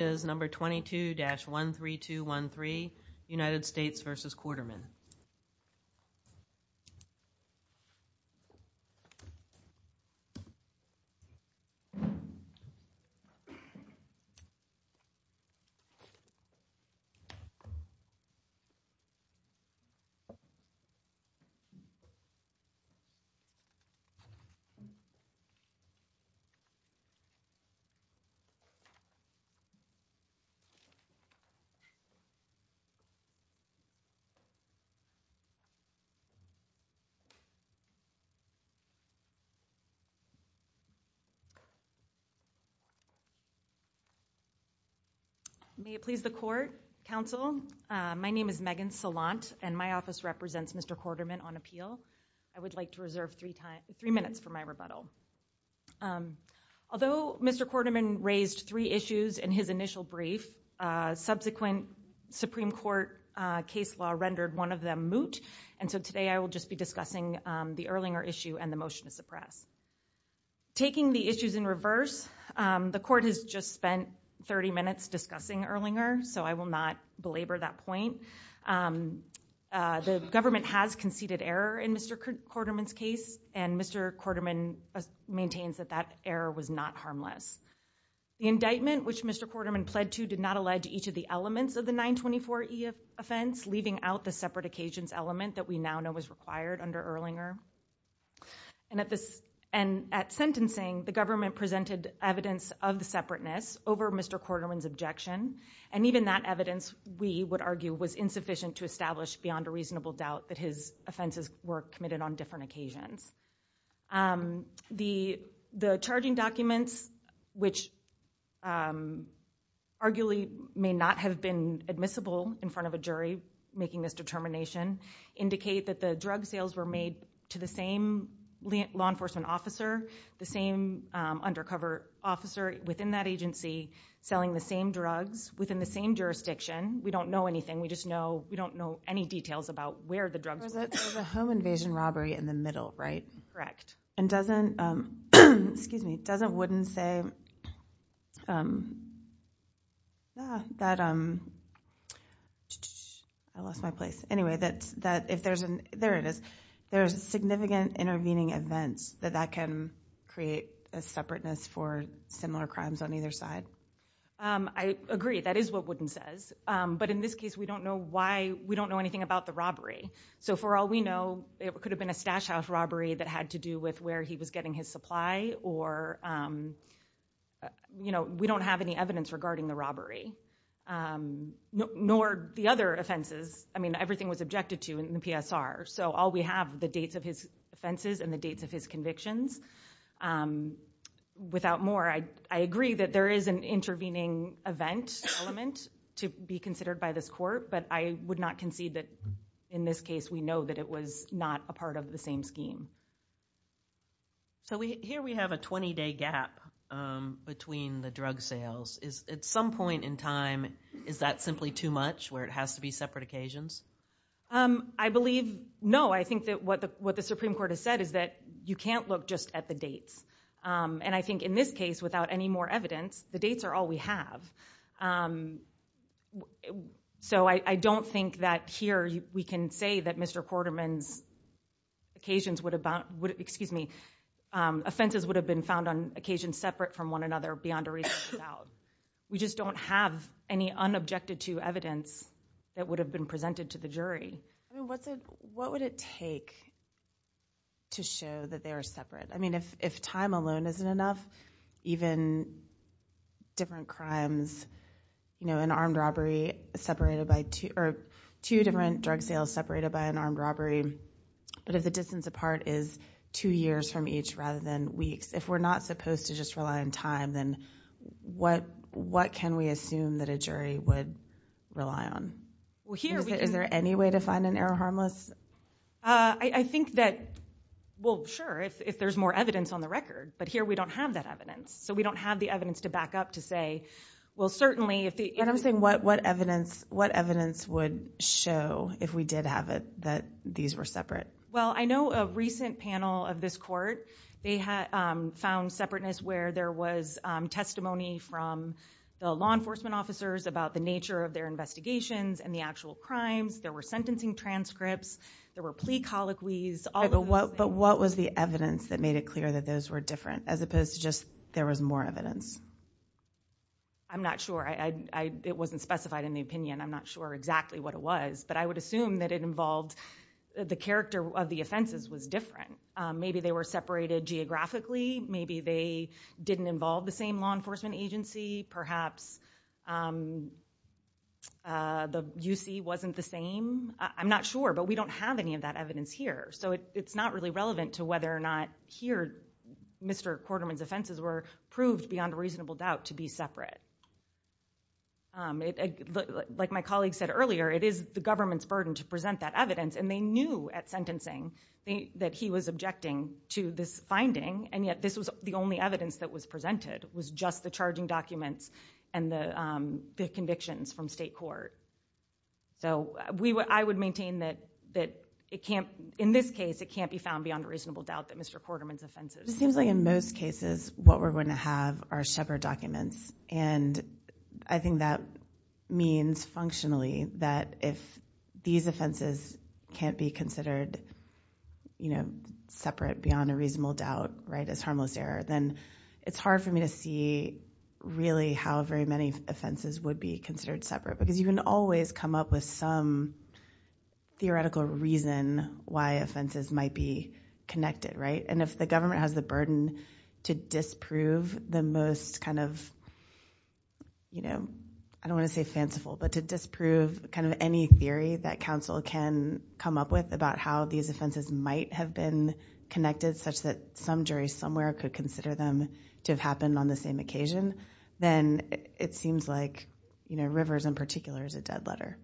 Americas No. 22-13213 United States v. Quarterman May it please the Court, Counsel. My name is Megan Salant, and my office represents Mr. Quarterman on appeal. I would like to reserve three minutes for my rebuttal. Although Mr. Quarterman raised three issues in his initial brief, subsequent Supreme Court case law rendered one of them moot, and so today I will just be discussing the Erlinger issue and the motion to suppress. Taking the issues in reverse, the Court has just spent 30 minutes discussing Erlinger, so I will not belabor that point. The government has conceded error in Mr. Quarterman's case, and Mr. Quarterman maintains that that error was not harmless. The indictment, which Mr. Quarterman pled to, did not allege each of the elements of the 924E offense, leaving out the separate occasions element that we now know was required under Erlinger. And at sentencing, the government presented evidence of the separateness over Mr. Quarterman's objection, and even that evidence, we would argue, was insufficient to establish beyond a reasonable doubt that his offenses were committed on different occasions. The charging documents, which arguably may not have been admissible in front of a jury making this determination, indicate that the drug sales were made to the same law enforcement officer, the same undercover officer within that agency, selling the same drugs within the same jurisdiction. We don't know anything, we just know, we don't know any details about where the drugs were. There was a home invasion robbery in the middle, right? And doesn't, excuse me, doesn't Wooden say, that, I lost my place, anyway, that if there's an, there it is, there's significant intervening events that that can create a separateness for similar crimes on either side? I agree, that is what Wooden says. But in this case, we don't know why, we don't know anything about the robbery. So for all we know, it could have been a stash house robbery that had to do with where he was getting his supply, or, you know, we don't have any evidence regarding the robbery. Nor the other offenses, I mean, everything was objected to in the PSR, so all we have, the dates of his offenses and the dates of his convictions. Without more, I agree that there is an intervening event element to be considered by this court, but I would not concede that in this case, we know that it was not a part of the same scheme. So we, here we have a 20 day gap between the drug sales. Is, at some point in time, is that simply too much, where it has to be separate occasions? I believe, no, I think that what the, what the Supreme Court has said is that you can't look just at the dates. And I think in this case, without any more evidence, the dates are all we have. So I don't think that here we can say that Mr. Quarterman's occasions would have been, excuse me, offenses would have been found on occasions separate from one another beyond a reasonable doubt. We just don't have any unobjected to evidence that would have been presented to the jury. I mean, what's a, what would it take to show that they are separate? I mean, if, if time alone isn't enough, even different crimes, you know, an armed robbery separated by two, or two different drug sales separated by an armed robbery. But if the distance apart is two years from each rather than weeks, if we're not supposed to just rely on time, then what, what can we assume that a jury would rely on? Well, here, is there any way to find an error harmless? I think that, well, sure, if there's more evidence on the record, but here we don't have that evidence. So we don't have the evidence to back up to say, well, certainly if the, and I'm saying what, what evidence, what evidence would show if we did have it, that these were separate? Well, I know a recent panel of this court, they had found separateness where there was testimony from the law enforcement officers about the nature of their investigations and the actual crimes. There were sentencing transcripts, there were plea colloquies. But what was the evidence that made it clear that those were different as opposed to just, there was more evidence? I'm not sure. I, I, it wasn't specified in the opinion. I'm not sure exactly what it was, but I would assume that it involved the character of the offenses was different. Maybe they were separated geographically. Maybe they didn't involve the same law enforcement agency. Perhaps the UC wasn't the same. I'm not sure, but we don't have any of that evidence here. So it's not really relevant to whether or not here, Mr. Quarterman's offenses were proved beyond a reasonable doubt to be separate. Like my colleague said earlier, it is the government's burden to present that evidence. And they knew at sentencing that he was objecting to this finding. And yet this was the only evidence that was presented was just the charging documents and the convictions from state court. So we would, I would maintain that, that it can't, in this case, it can't be found beyond a reasonable doubt that Mr. Quarterman's offenses. It seems like in most cases, what we're going to have are shepherd documents. And I think that means functionally that if these offenses can't be considered separate beyond a reasonable doubt as harmless error, then it's hard for me to see really how very many offenses would be considered separate. Because you can always come up with some theoretical reason why offenses might be connected. And if the government has the burden to disprove the most I don't want to say fanciful, but to disprove kind of any theory that counsel can come up with about how these offenses might have been connected such that some jury somewhere could consider them to have happened on the same occasion, then it seems like, you know, Rivers in particular is a dead letter.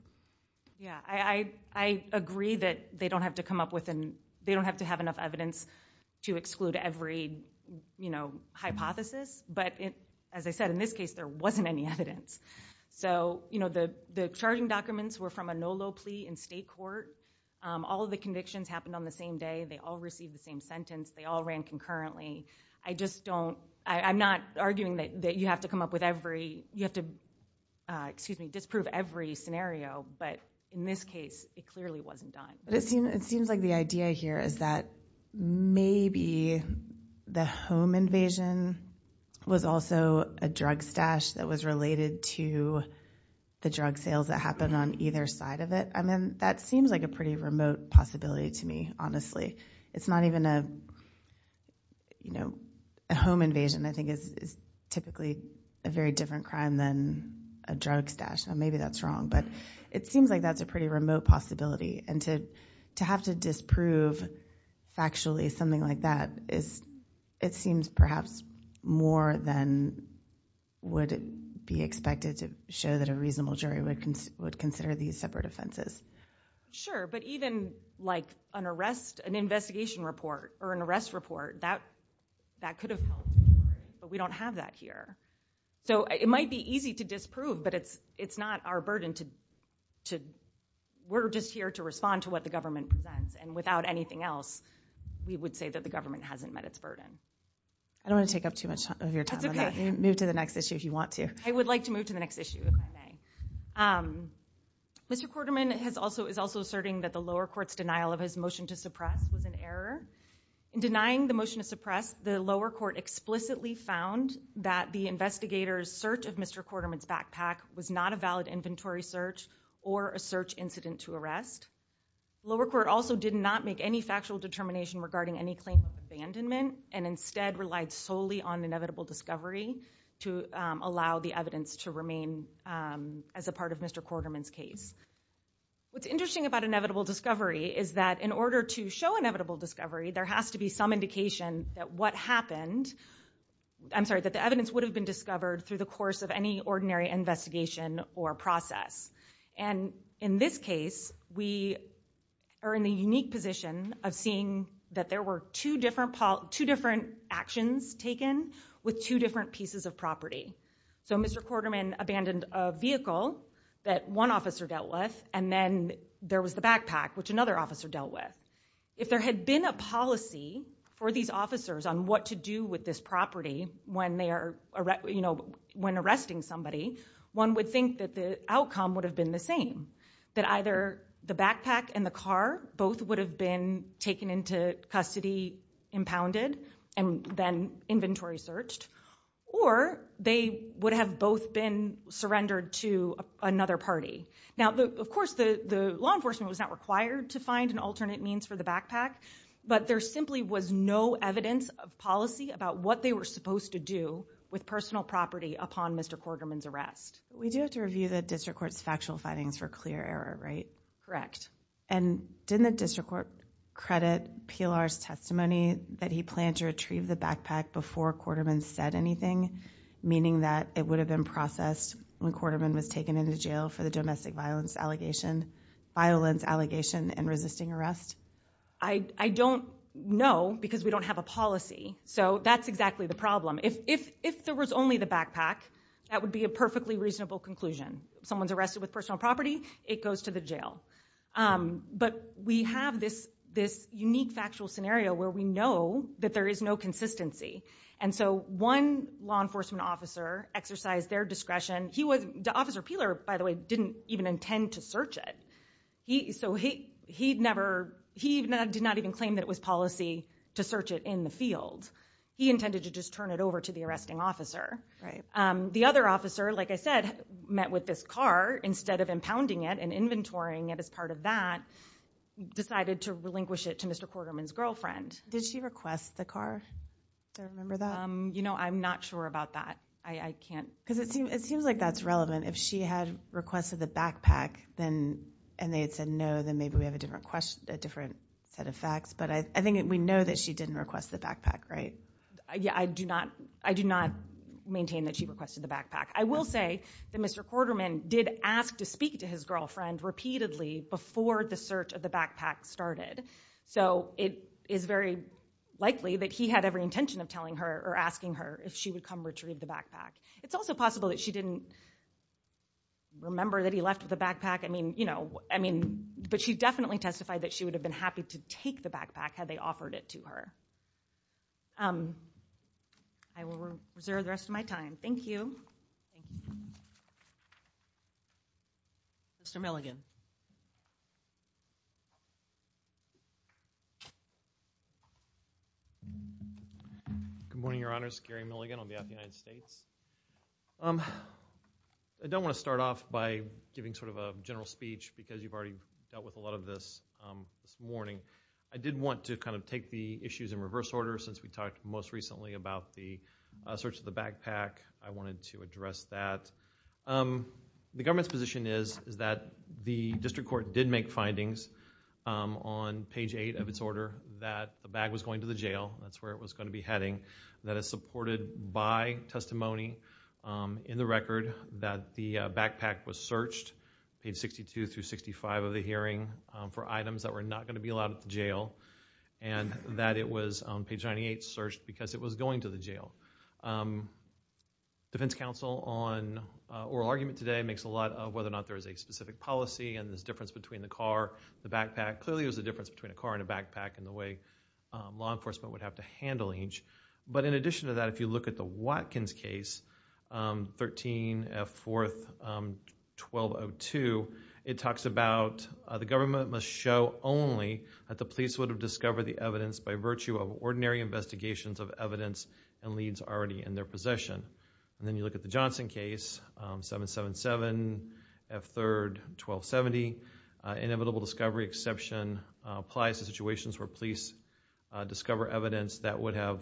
Yeah, I agree that they don't have to come up with and they don't have to have enough evidence to exclude every, you know, hypothesis. But as I said, in this case, there wasn't any evidence. So, you know, the charging documents were from a NOLO plea in state court. All of the convictions happened on the same day. They all received the same sentence. They all ran concurrently. I just don't, I'm not arguing that you have to come up with every, you have to, excuse me, disprove every scenario. But in this case, it clearly wasn't done. But it seems like the idea here is that maybe the home invasion was also a drug stash that was related to the drug sales that happened on either side of it. I mean, that seems like a pretty remote possibility to me, honestly. It's not even a, you know, a home invasion I think is typically a very different crime than a drug stash. Maybe that's wrong, but it seems like that's a pretty remote possibility. And to have to disprove factually something like that is, it seems perhaps more than would be expected to show that a reasonable jury would consider these separate offenses. Sure, but even like an arrest, an investigation report or an arrest report, that could have helped, but we don't have that here. So it might be easy to disprove, but it's not our burden to, to, we're just here to respond to what the government presents. And without anything else, we would say that the government hasn't met its burden. I don't want to take up too much of your time. Move to the next issue if you want to. I would like to move to the next issue if I may. Mr. Quarterman has also, is also asserting that the lower court's denial of his motion to suppress was an error. In denying the motion to suppress, the lower court explicitly found that the investigator's search of Mr. Quarterman's or a search incident to arrest. Lower court also did not make any factual determination regarding any claim of abandonment and instead relied solely on inevitable discovery to allow the evidence to remain as a part of Mr. Quarterman's case. What's interesting about inevitable discovery is that in order to show inevitable discovery, there has to be some indication that what happened, I'm sorry, that the evidence would have been discovered through the course of any ordinary investigation or process. And in this case, we are in the unique position of seeing that there were two different actions taken with two different pieces of property. So Mr. Quarterman abandoned a vehicle that one officer dealt with, and then there was the backpack, which another officer dealt with. If there had been a policy for these officers on what to do with this property when arresting somebody, one would think that the outcome would have been the same, that either the backpack and the car both would have been taken into custody, impounded, and then inventory searched, or they would have both been surrendered to another party. Now, of course, the law enforcement was not required to find alternate means for the backpack, but there simply was no evidence of policy about what they were supposed to do with personal property upon Mr. Quarterman's arrest. We do have to review the district court's factual findings for clear error, right? Correct. And didn't the district court credit PLR's testimony that he planned to retrieve the backpack before Quarterman said anything, meaning that it would have been processed when Quarterman was taken into jail for the domestic violence allegation, violence allegation, and resisting arrest? I don't know because we don't have a policy, so that's exactly the problem. If there was only the backpack, that would be a perfectly reasonable conclusion. Someone's arrested with personal property, it goes to the jail. But we have this unique factual scenario where we know that there is no consistency, and so one law enforcement officer exercised their discretion. Officer Peeler, by the way, didn't even intend to search it. He did not even claim that it was policy to search it in the field. He intended to just turn it over to the arresting officer. The other officer, like I said, met with this car instead of impounding it and inventorying it as part of that, decided to relinquish it to Mr. Quarterman's girlfriend. Did she request the car? Do I remember that? You know, I'm not sure about that. I can't. Because it seems like that's relevant. If she had requested the backpack and they had said no, then maybe we have a different set of facts. But I think we know that she didn't request the backpack, right? Yeah, I do not maintain that she requested the backpack. I will say that Mr. Quarterman did ask to speak to his girlfriend repeatedly before the search of the backpack started. So it is very likely that he had every intention of telling her or asking her if she would come retrieve the backpack. It's also possible that she didn't remember that he left with the backpack. I mean, you know, I mean, but she definitely testified that she would have been happy to take the backpack had they offered it to her. I will reserve the rest of my time. Thank you. Mr. Milligan. Good morning, Your Honors. Gary Milligan on behalf of the United States. I don't want to start off by giving sort of a general speech because you've already dealt with a lot of this this morning. I did want to kind of take the issues in reverse order since we talked most recently about the search of the backpack. I wanted to address that. The government's position is that the district court did make findings on page 8 of its order that the bag was going to the jail. That's where it was going to be heading. That is supported by testimony in the record that the backpack was searched, page 62 through 65 of the hearing, for items that were not going to be allowed at the jail and that it was on page 98 searched because it was going to the jail. Defense counsel on oral argument today makes a lot of whether or not there is a specific policy and this difference between the car, the backpack. Clearly there's a difference between a car and a handle. In addition to that, if you look at the Watkins case, 13F4-1202, it talks about the government must show only that the police would have discovered the evidence by virtue of ordinary investigations of evidence and leads already in their possession. Then you look at the Johnson case, 777F3-1270. Inevitable discovery exception applies to situations where police discover evidence that would have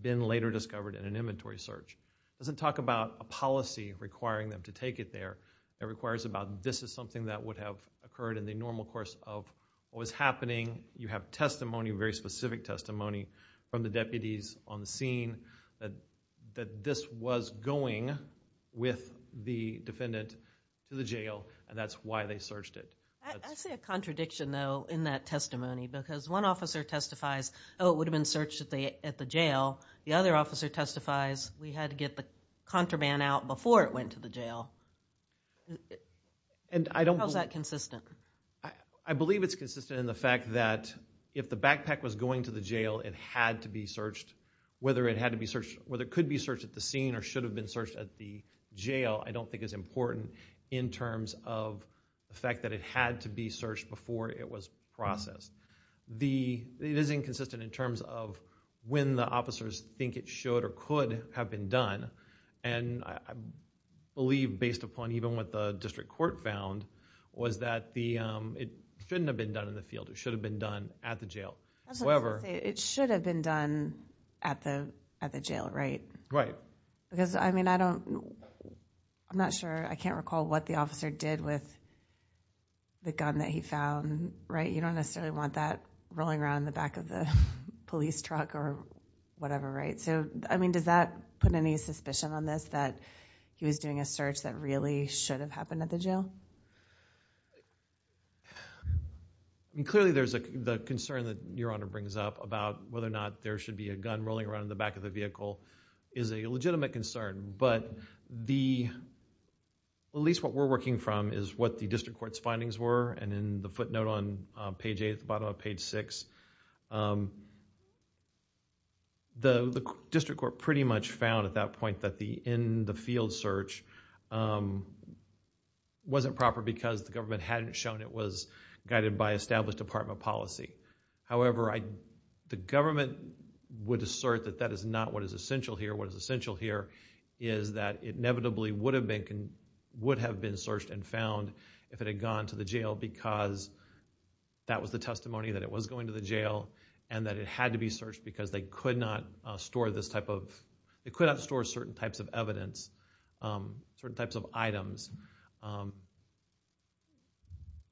been later discovered in an inventory search. It doesn't talk about a policy requiring them to take it there. It requires about this is something that would have occurred in the normal course of what was happening. You have testimony, very specific testimony from the deputies on the scene that this was going with the defendant to the jail and that's why they searched it. I see a contradiction though in that testimony because one officer testifies, oh, it would have been searched at the jail. The other officer testifies, we had to get the contraband out before it went to the jail. How is that consistent? I believe it's consistent in the fact that if the backpack was going to the jail, it had to be searched. Whether it could be searched at the scene or should have been at the jail, I don't think is important in terms of the fact that it had to be searched before it was processed. It is inconsistent in terms of when the officers think it should or could have been done. I believe based upon even what the district court found, was that it shouldn't have been done in the field. It should have been done at the jail. It should have been done at the jail, right? I'm not sure. I can't recall what the officer did with the gun that he found. You don't necessarily want that rolling around in the back of the police truck or whatever. Does that put any suspicion on this that he was doing a search that really should have happened at the jail? Clearly, the concern that Your Honor brings up about whether or not there should be a gun rolling around in the back of the vehicle is a legitimate concern. At least what we're working from is what the district court's findings were. In the footnote on page 8, at the bottom of page 6, the district court pretty much found at that point that the in-the-field search wasn't proper because the government hadn't shown it was guided by established department policy. However, the government would assert that that is not what is essential here. What is essential here is that it inevitably would have been searched and found if it had gone to the jail because that was the testimony that it was going to the jail and that it had to be searched because they certain types of items,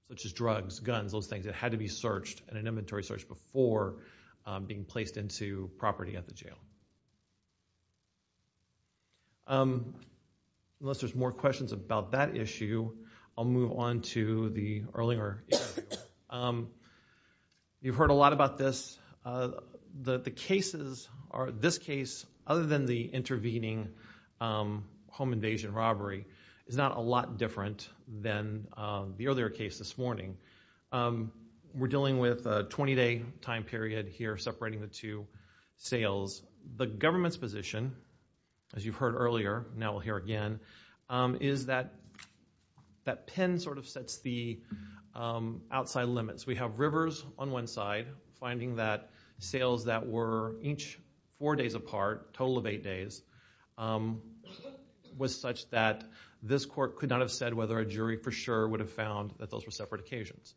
such as drugs, guns, those things that had to be searched in an inventory search before being placed into property at the jail. Unless there's more questions about that issue, I'll move on to the earlier. You've heard a lot about this. The cases are, this case, other than the intervening home invasion robbery, is not a lot different than the other case this morning. We're dealing with a 20-day time period here separating the two sales. The government's position, as you've heard earlier, now we'll hear again, is that that pen sort of sets the outside limits. We have rivers on one side, finding that sales that were each four days apart, total of eight days, was such that this court could not have said whether a jury for sure would have found that those were separate occasions.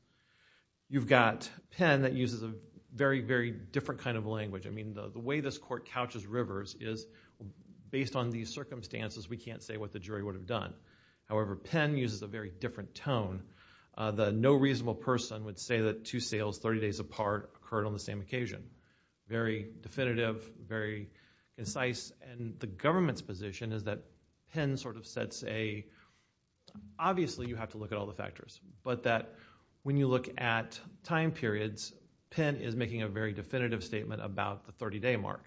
You've got pen that uses a very, very different kind of language. I mean, the way this court couches rivers is, based on these circumstances, we can't say what the jury would have done. However, pen uses a very different tone. The no reasonable person would say that two sales 30 days apart occurred on the same occasion. Very definitive, very concise, and the government's position is that pen sort of sets a, obviously you have to look at all the factors, but that when you look at time periods, pen is making a very definitive statement about the 30-day mark.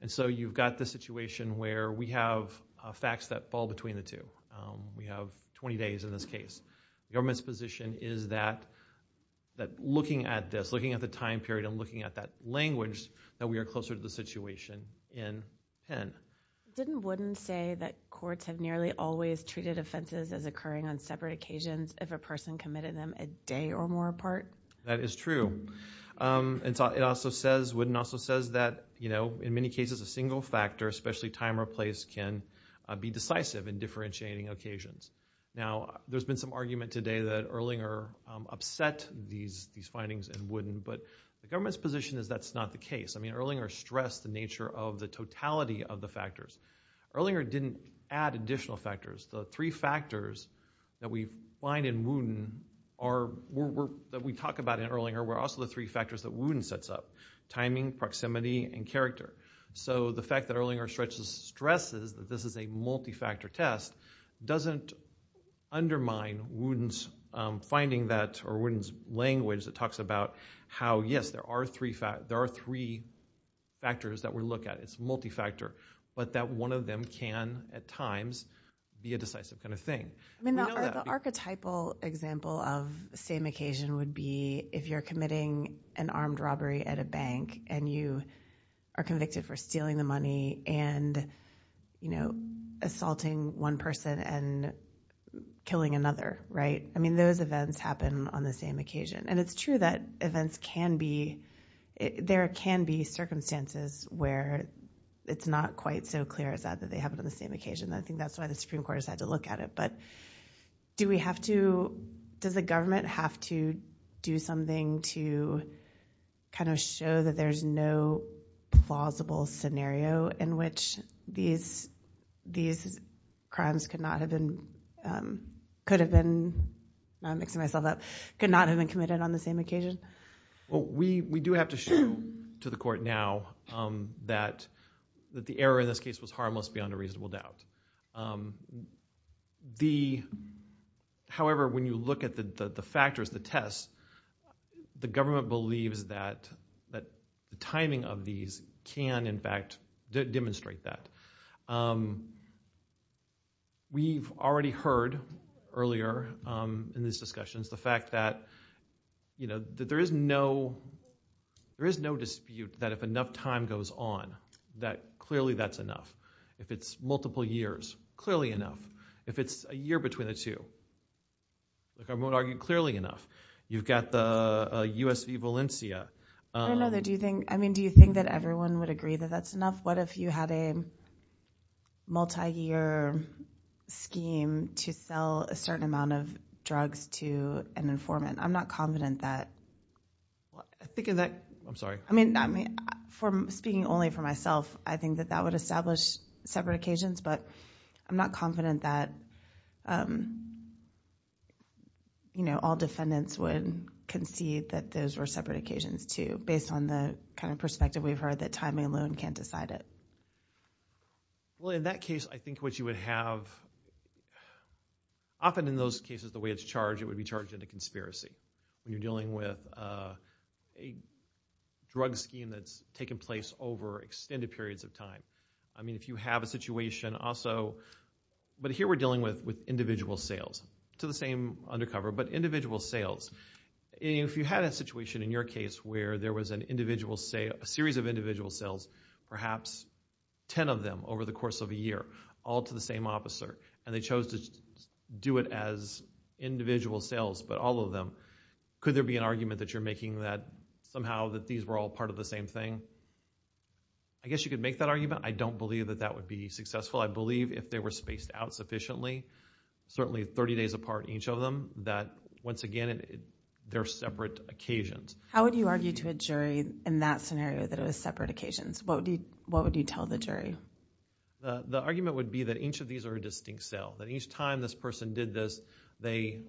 And so you've got this situation where we have facts that fall between the two. We have 20 days in this case. The government's position is that looking at this, looking at the time period, and looking at that language, that we are closer to the situation in pen. Didn't Wooden say that courts have nearly always treated offenses as occurring on separate occasions if a person committed them a day or more apart? That is true. And so it also says, Wooden also says that, you know, in many cases a single factor, especially time or place, can be decisive in differentiating occasions. Now, there's been some argument today that Erlinger upset these findings in Wooden, but the government's position is that's not the case. I mean, Erlinger stressed the nature of the totality of the factors. Erlinger didn't add additional factors. The three factors that we find in Wooden are, that we talk about in Erlinger, were also the three factors that Wooden sets up. Timing, proximity, and character. So the fact that Erlinger stresses that this is a multi-factor test doesn't undermine Wooden's language that talks about how, yes, there are three factors that we look at. It's multi-factor. But that one of them can, at times, be a decisive kind of thing. I mean, the archetypal example of the same occasion would be if you're committing an armed robbery at a bank and you are convicted for stealing the money and, you know, assaulting one person and killing another, right? I mean, those events happen on the same occasion. And it's true that events can be, there can be circumstances where it's not quite so clear as that, that they happen on the same occasion. I think that's why the Supreme Court has had to look at it. But do we have to, does the government have to do something to kind of show that there's no plausible scenario in which these crimes could not have been, could have been, I'm mixing myself up, could not have been committed on the same occasion? Well, we do have to show to the the, however, when you look at the factors, the tests, the government believes that that the timing of these can, in fact, demonstrate that. We've already heard earlier in these discussions the fact that, you know, that there is no, there is no dispute that if enough time goes on, that clearly that's enough. If it's multiple years, clearly enough. If it's a year between the two, like I won't argue clearly enough. You've got the USV Valencia. I know that, do you think, I mean, do you think that everyone would agree that that's enough? What if you had a multi-year scheme to sell a certain amount of drugs to an informant? I'm not confident that, I think of that, I'm sorry, I mean, I mean, from speaking only for myself, I think that that would establish separate occasions, but I'm not confident that, you know, all defendants would concede that those were separate occasions, too, based on the kind of perspective we've heard that timing alone can't decide it. Well, in that case, I think what you would have, often in those cases, the way it's charged, it would be charged in a conspiracy. When you're dealing with a drug scheme that's taken place over extended periods of time. I mean, if you have a situation also, but here we're dealing with individual sales, to the same undercover, but individual sales. If you had a situation in your case where there was an individual sale, a series of individual sales, perhaps 10 of them over the course of a year, all to the same officer, and they chose to do it as individual sales, but all of them, could there be an argument that you're making that somehow that these were all part of the same thing? I guess you could make that argument. I don't believe that that would be successful. I believe if they were spaced out sufficiently, certainly 30 days apart, each of them, that once again, they're separate occasions. How would you argue to a jury in that scenario that it was a distinct sale? That each time this person did this, they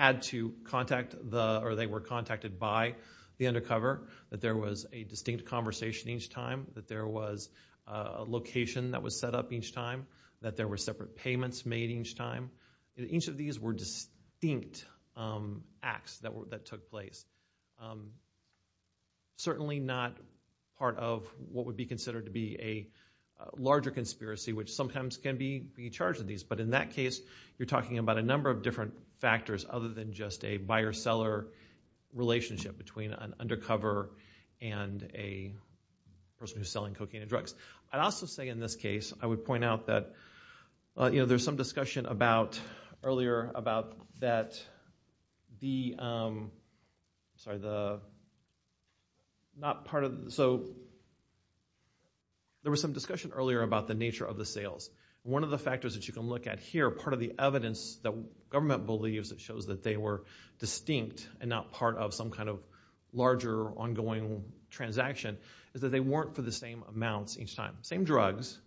were contacted by the undercover, that there was a distinct conversation each time, that there was a location that was set up each time, that there were separate payments made each time. Each of these were distinct acts that took place. Certainly not part of what would be considered to be a larger conspiracy, which sometimes can be charged with these, but in that case, you're talking about a number of different factors other than just a buyer-seller relationship between an undercover and a person who's selling cocaine and drugs. I'd also say in this case, I would point out that there was some discussion earlier about the nature of the sales. One of the factors that you can look at here, part of the evidence that government believes that shows that they were distinct and not part of some kind of larger ongoing transaction, is that they weren't for the same amounts each time. Same drugs,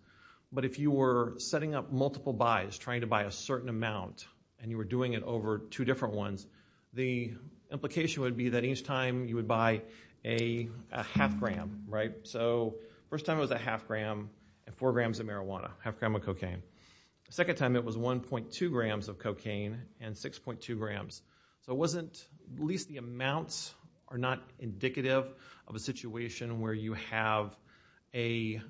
but if you were setting up multiple buys, trying to buy a certain amount, and you were doing it over two different ones, the implication would be that each time you would buy a half gram, right? So first time it was a half gram and four grams of marijuana, half gram of cocaine. Second time it was 1.2 grams of cocaine and 6.2 grams. So it wasn't, at least the amounts are not indicative of a situation where you have a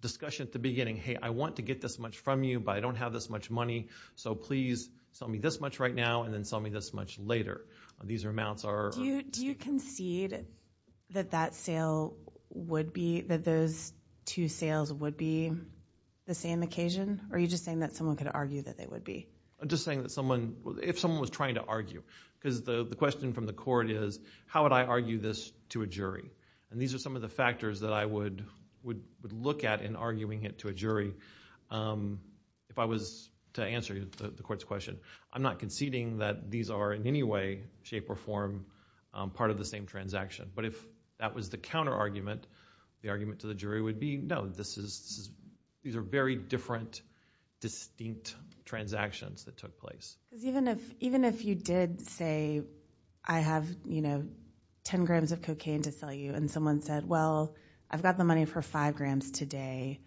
discussion at the beginning, hey, I want to get this much from you, but I don't have this much money, so please sell me this much right now and then sell me this much later. These amounts are... Do you concede that that sale would be, that those two sales would be the same occasion, or are you just saying that someone could argue that they would be? I'm just saying that someone, if someone was trying to argue, because the question from the court is, how would I argue this to a jury? And these are some of the factors that I would look at in arguing it to a jury. If I was to answer the court's question, I'm not conceding that these are in any way, shape or form, part of the same transaction. But if that was the counter-argument, the argument to the jury would be, no, these are very different, distinct transactions that took place. Because even if you did say, I have 10 grams of cocaine to sell you, and someone said, well, I've got the money for five grams today,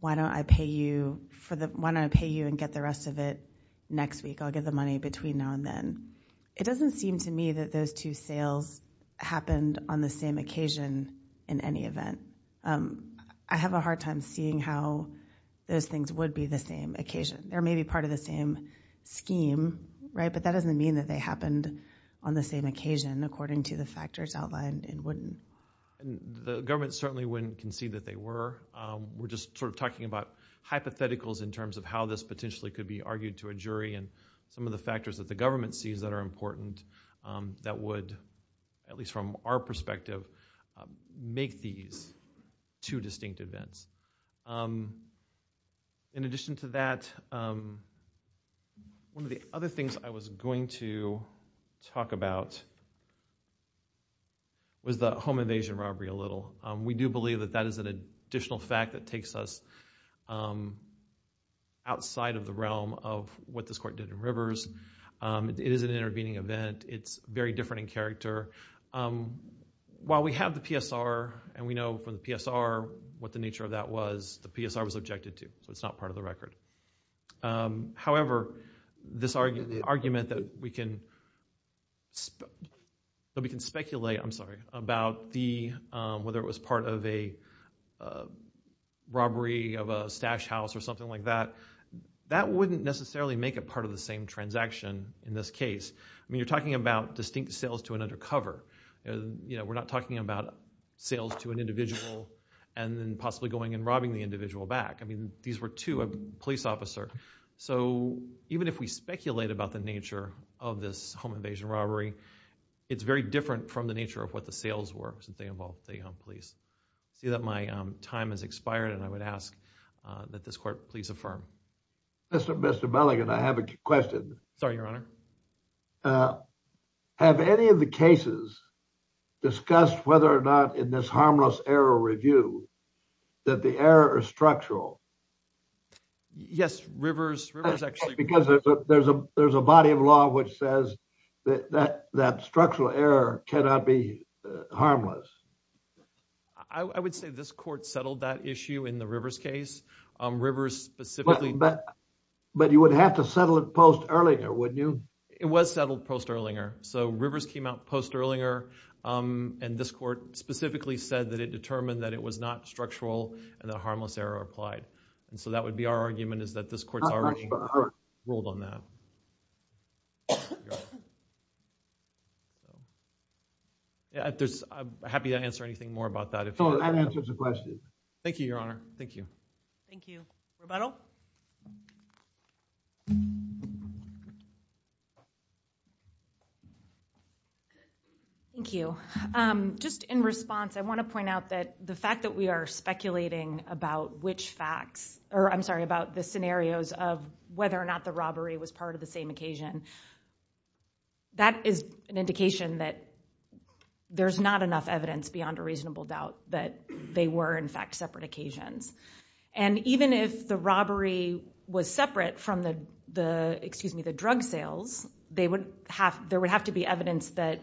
why don't I pay you and get the rest of it next week? I'll give the money between now and then. It doesn't seem to me that those two sales happened on the same occasion in any event. I have a hard time seeing how those things would be the same occasion. They may be part of the same scheme, but that doesn't mean that they happened on the same occasion, according to the factors outlined in Whitten. The government certainly wouldn't concede that they were. We're just sort of talking about hypotheticals in terms of how this potentially could be argued to a jury and some of the factors that the government sees that are important that would, at least from our perspective, make these two distinct events. In addition to that, one of the other things I was going to talk about was the home invasion robbery a little. We do believe that that is an additional fact that takes us outside of the realm of what this court did in Rivers. It is an intervening event. It's very different in character. While we have the PSR and we know from the PSR what the nature of that was, the PSR was objected to, so it's not part of the record. However, this argument that we can speculate about whether it was part of a robbery of a stash house or something like that, that wouldn't necessarily make it part of the same transaction in this case. I mean, we're talking about distinct sales to an undercover. We're not talking about sales to an individual and then possibly going and robbing the individual back. I mean, these were two police officers. So even if we speculate about the nature of this home invasion robbery, it's very different from the nature of what the sales were since they involved the police. I see that my time has expired and I would ask that this court please affirm. Mr. Mulligan, I have a question. Sorry, Your Honor. Have any of the cases discussed whether or not in this harmless error review that the error is structural? Yes, Rivers actually. Because there's a body of law which says that structural error cannot be harmless. I would say this court settled that issue in the Rivers case. Rivers specifically. But you would have to settle it post-Erlinger, wouldn't you? It was settled post-Erlinger. So Rivers came out post-Erlinger and this court specifically said that it determined that it was not structural and that harmless error applied. And so that would be our argument is that this court's already ruled on that. I'm happy to answer anything more about that. That answers the question. Thank you, Your Honor. Thank you. Thank you. Roberto. Thank you. Just in response, I want to point out that the fact that we are speculating about which facts or I'm sorry about the scenarios of whether or not the robbery was part of the same occasion. That is an indication that there's not enough evidence beyond a reasonable doubt that they were in fact separate occasions. And even if the robbery was separate from the, excuse me, the drug sales, there would have to be evidence that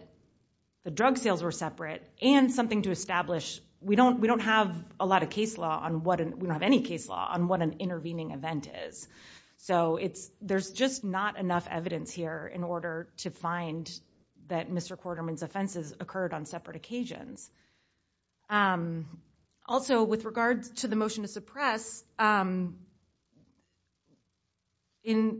the drug sales were separate and something to establish. We don't have a lot of case law. We don't have any case law on what an intervening event is. So there's just not enough evidence here in order to find that Mr. Quarterman's offenses occurred on separate occasions. Also, with regards to the motion to suppress, in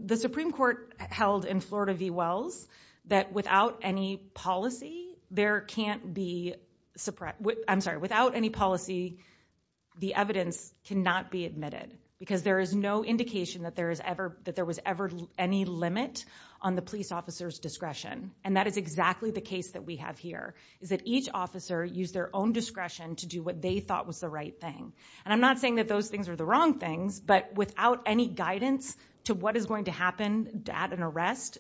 the Supreme Court held in Florida v. Wells, that without any policy, there can't be suppressed. I'm sorry, without any policy, the evidence cannot be admitted because there is no indication that there was ever any limit on the police officer's discretion. And that is exactly the case that we have here, is that each officer used their own discretion to do what they thought was the right thing. And I'm not saying that those things are the wrong things, but without any guidance to what is going to happen at an arrest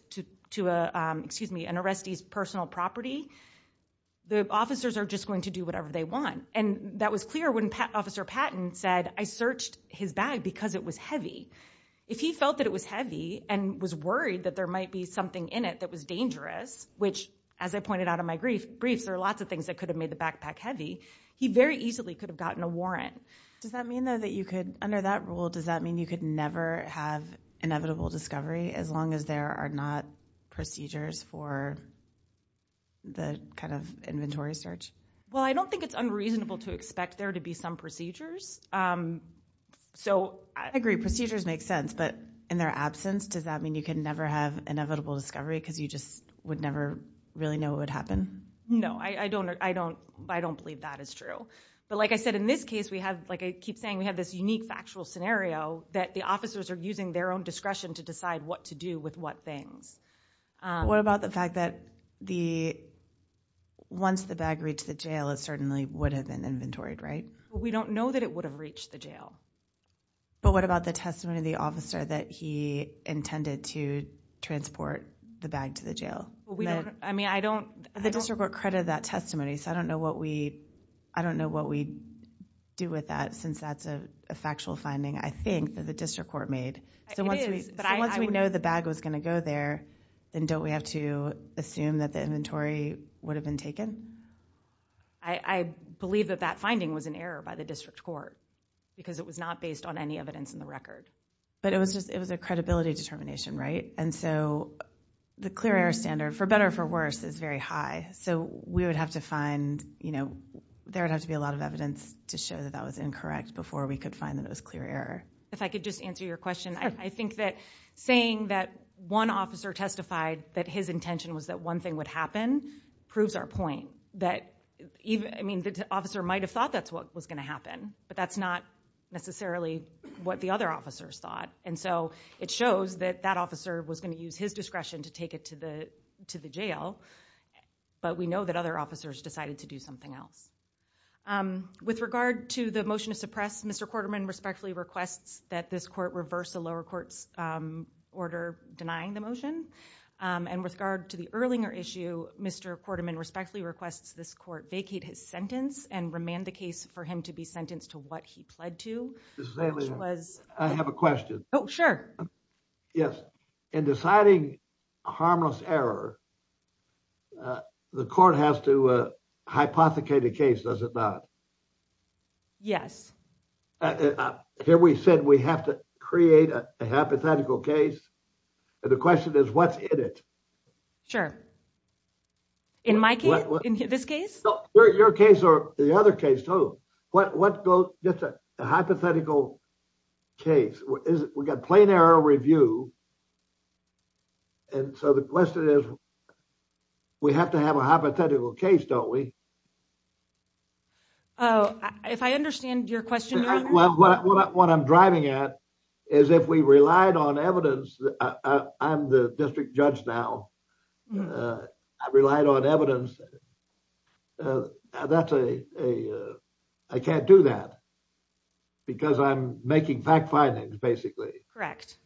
to an arrestee's personal property, the officers are just going to do whatever they want. And that was clear when Officer Patton said, I searched his bag because it was heavy. If he felt that it was heavy and was worried that there might be in it that was dangerous, which, as I pointed out in my briefs, there are lots of things that could have made the backpack heavy, he very easily could have gotten a warrant. Does that mean, though, that you could, under that rule, does that mean you could never have inevitable discovery as long as there are not procedures for the kind of inventory search? Well, I don't think it's unreasonable to expect there to be some procedures. I agree, procedures make sense, but in their absence, does that mean you can never have inevitable discovery because you just would never really know what would happen? No, I don't believe that is true. But like I said, in this case, we have, like I keep saying, we have this unique factual scenario that the officers are using their own discretion to decide what to do with what things. What about the fact that once the bag reached the jail, it certainly would have been inventoried, right? We don't know that it would have reached the jail. But what about the testimony of the officer that he intended to transport the bag to the jail? The district court credited that testimony, so I don't know what we do with that since that's a factual finding, I think, that the district court made. So once we know the bag was going to go there, then don't we have to assume that the inventory would have been taken? I believe that that finding was an error by the district court because it was not based on any evidence in the record. But it was a credibility determination, right? And so the clear error standard, for better or for worse, is very high. So we would have to find, you know, there would have to be a lot of evidence to show that that was incorrect before we could find that it was clear error. If I could just answer your question, I think that saying that one officer testified that his intention was that one thing would happen proves our point. That even, I mean, the officer might have thought that's what was going to happen, but that's not necessarily what the other officers thought. And so it shows that that officer was going to use his discretion to take it to the jail, but we know that other officers decided to do something else. With regard to the motion to suppress, Mr. Quarterman respectfully requests that this reverse the lower court's order denying the motion. And with regard to the Erlinger issue, Mr. Quarterman respectfully requests this court vacate his sentence and remand the case for him to be sentenced to what he pled to. I have a question. Oh, sure. Yes. In deciding harmless error, the court has to hypothecate a case, does it not? Yes. Here we said we have to create a hypothetical case. And the question is what's in it? Sure. In my case, in this case? Your case or the other case, what goes, just a hypothetical case. We've got plain error review. And so the question is, we have to have a hypothetical case, don't we? Oh, if I understand your question. What I'm driving at is if we relied on evidence, I'm the district judge now. I relied on evidence. I can't do that because I'm making fact findings basically. Correct.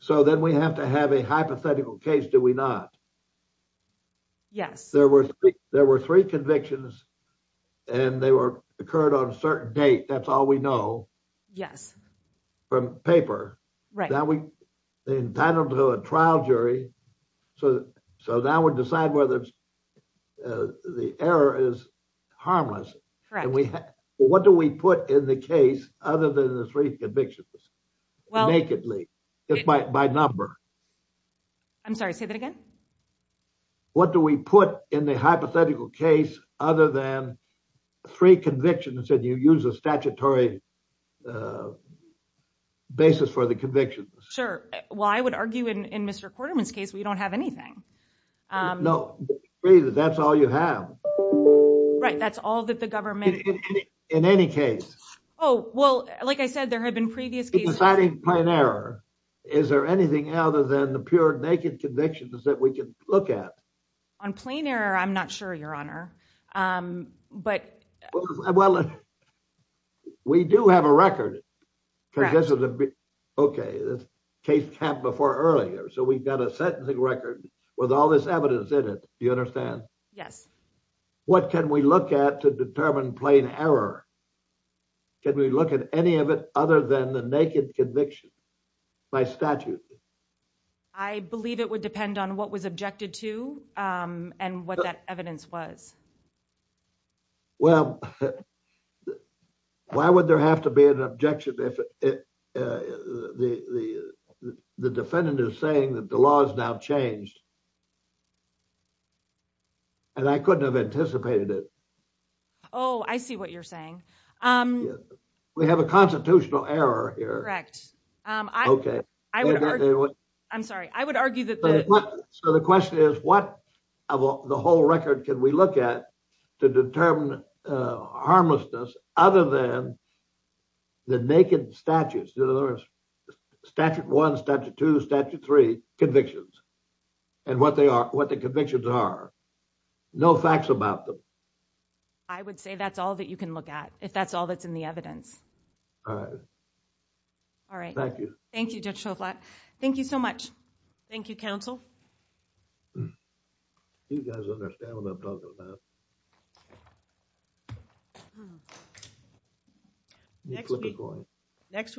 So then we have to have a hypothetical case, do we not? Yes. There were three convictions and they were occurred on a trial jury. So now we decide whether the error is harmless. Correct. What do we put in the case other than the three convictions? Well, nakedly by number. I'm sorry, say that again. What do we put in the hypothetical case other than three convictions that you use a statutory basis for the convictions? Sure. Well, I would argue in Mr. Quarterman's case, we don't have anything. No, that's all you have. Right. That's all that the government. In any case. Oh, well, like I said, there have been previous cases. Deciding plain error. Is there anything other than the pure naked convictions that we can look at? On plain error, I'm not sure, Your Honor, but. Well, we do have a record. Okay. This case happened before earlier. So we've got a sentencing record with all this evidence in it. You understand? Yes. What can we look at to determine plain error? Can we look at any of it other than the naked conviction by statute? I believe it would depend on what was objected to. And what that evidence was. Well, why would there have to be an objection if the defendant is saying that the law has now changed? And I couldn't have anticipated it. Oh, I see what you're saying. We have a constitutional error here. Correct. Okay. I'm sorry. I would argue that. So the question is, what of the whole record can we look at to determine harmlessness other than the naked statutes? There are statute one, statute two, statute three convictions. And what they are, what the convictions are. No facts about them. I would say that's all that you can look at. If that's all that's in the evidence. All right. All right. Thank you. Thank you, Judge Shovlat. Thank you so much. Thank you, counsel. You guys understand what I'm talking about. Next we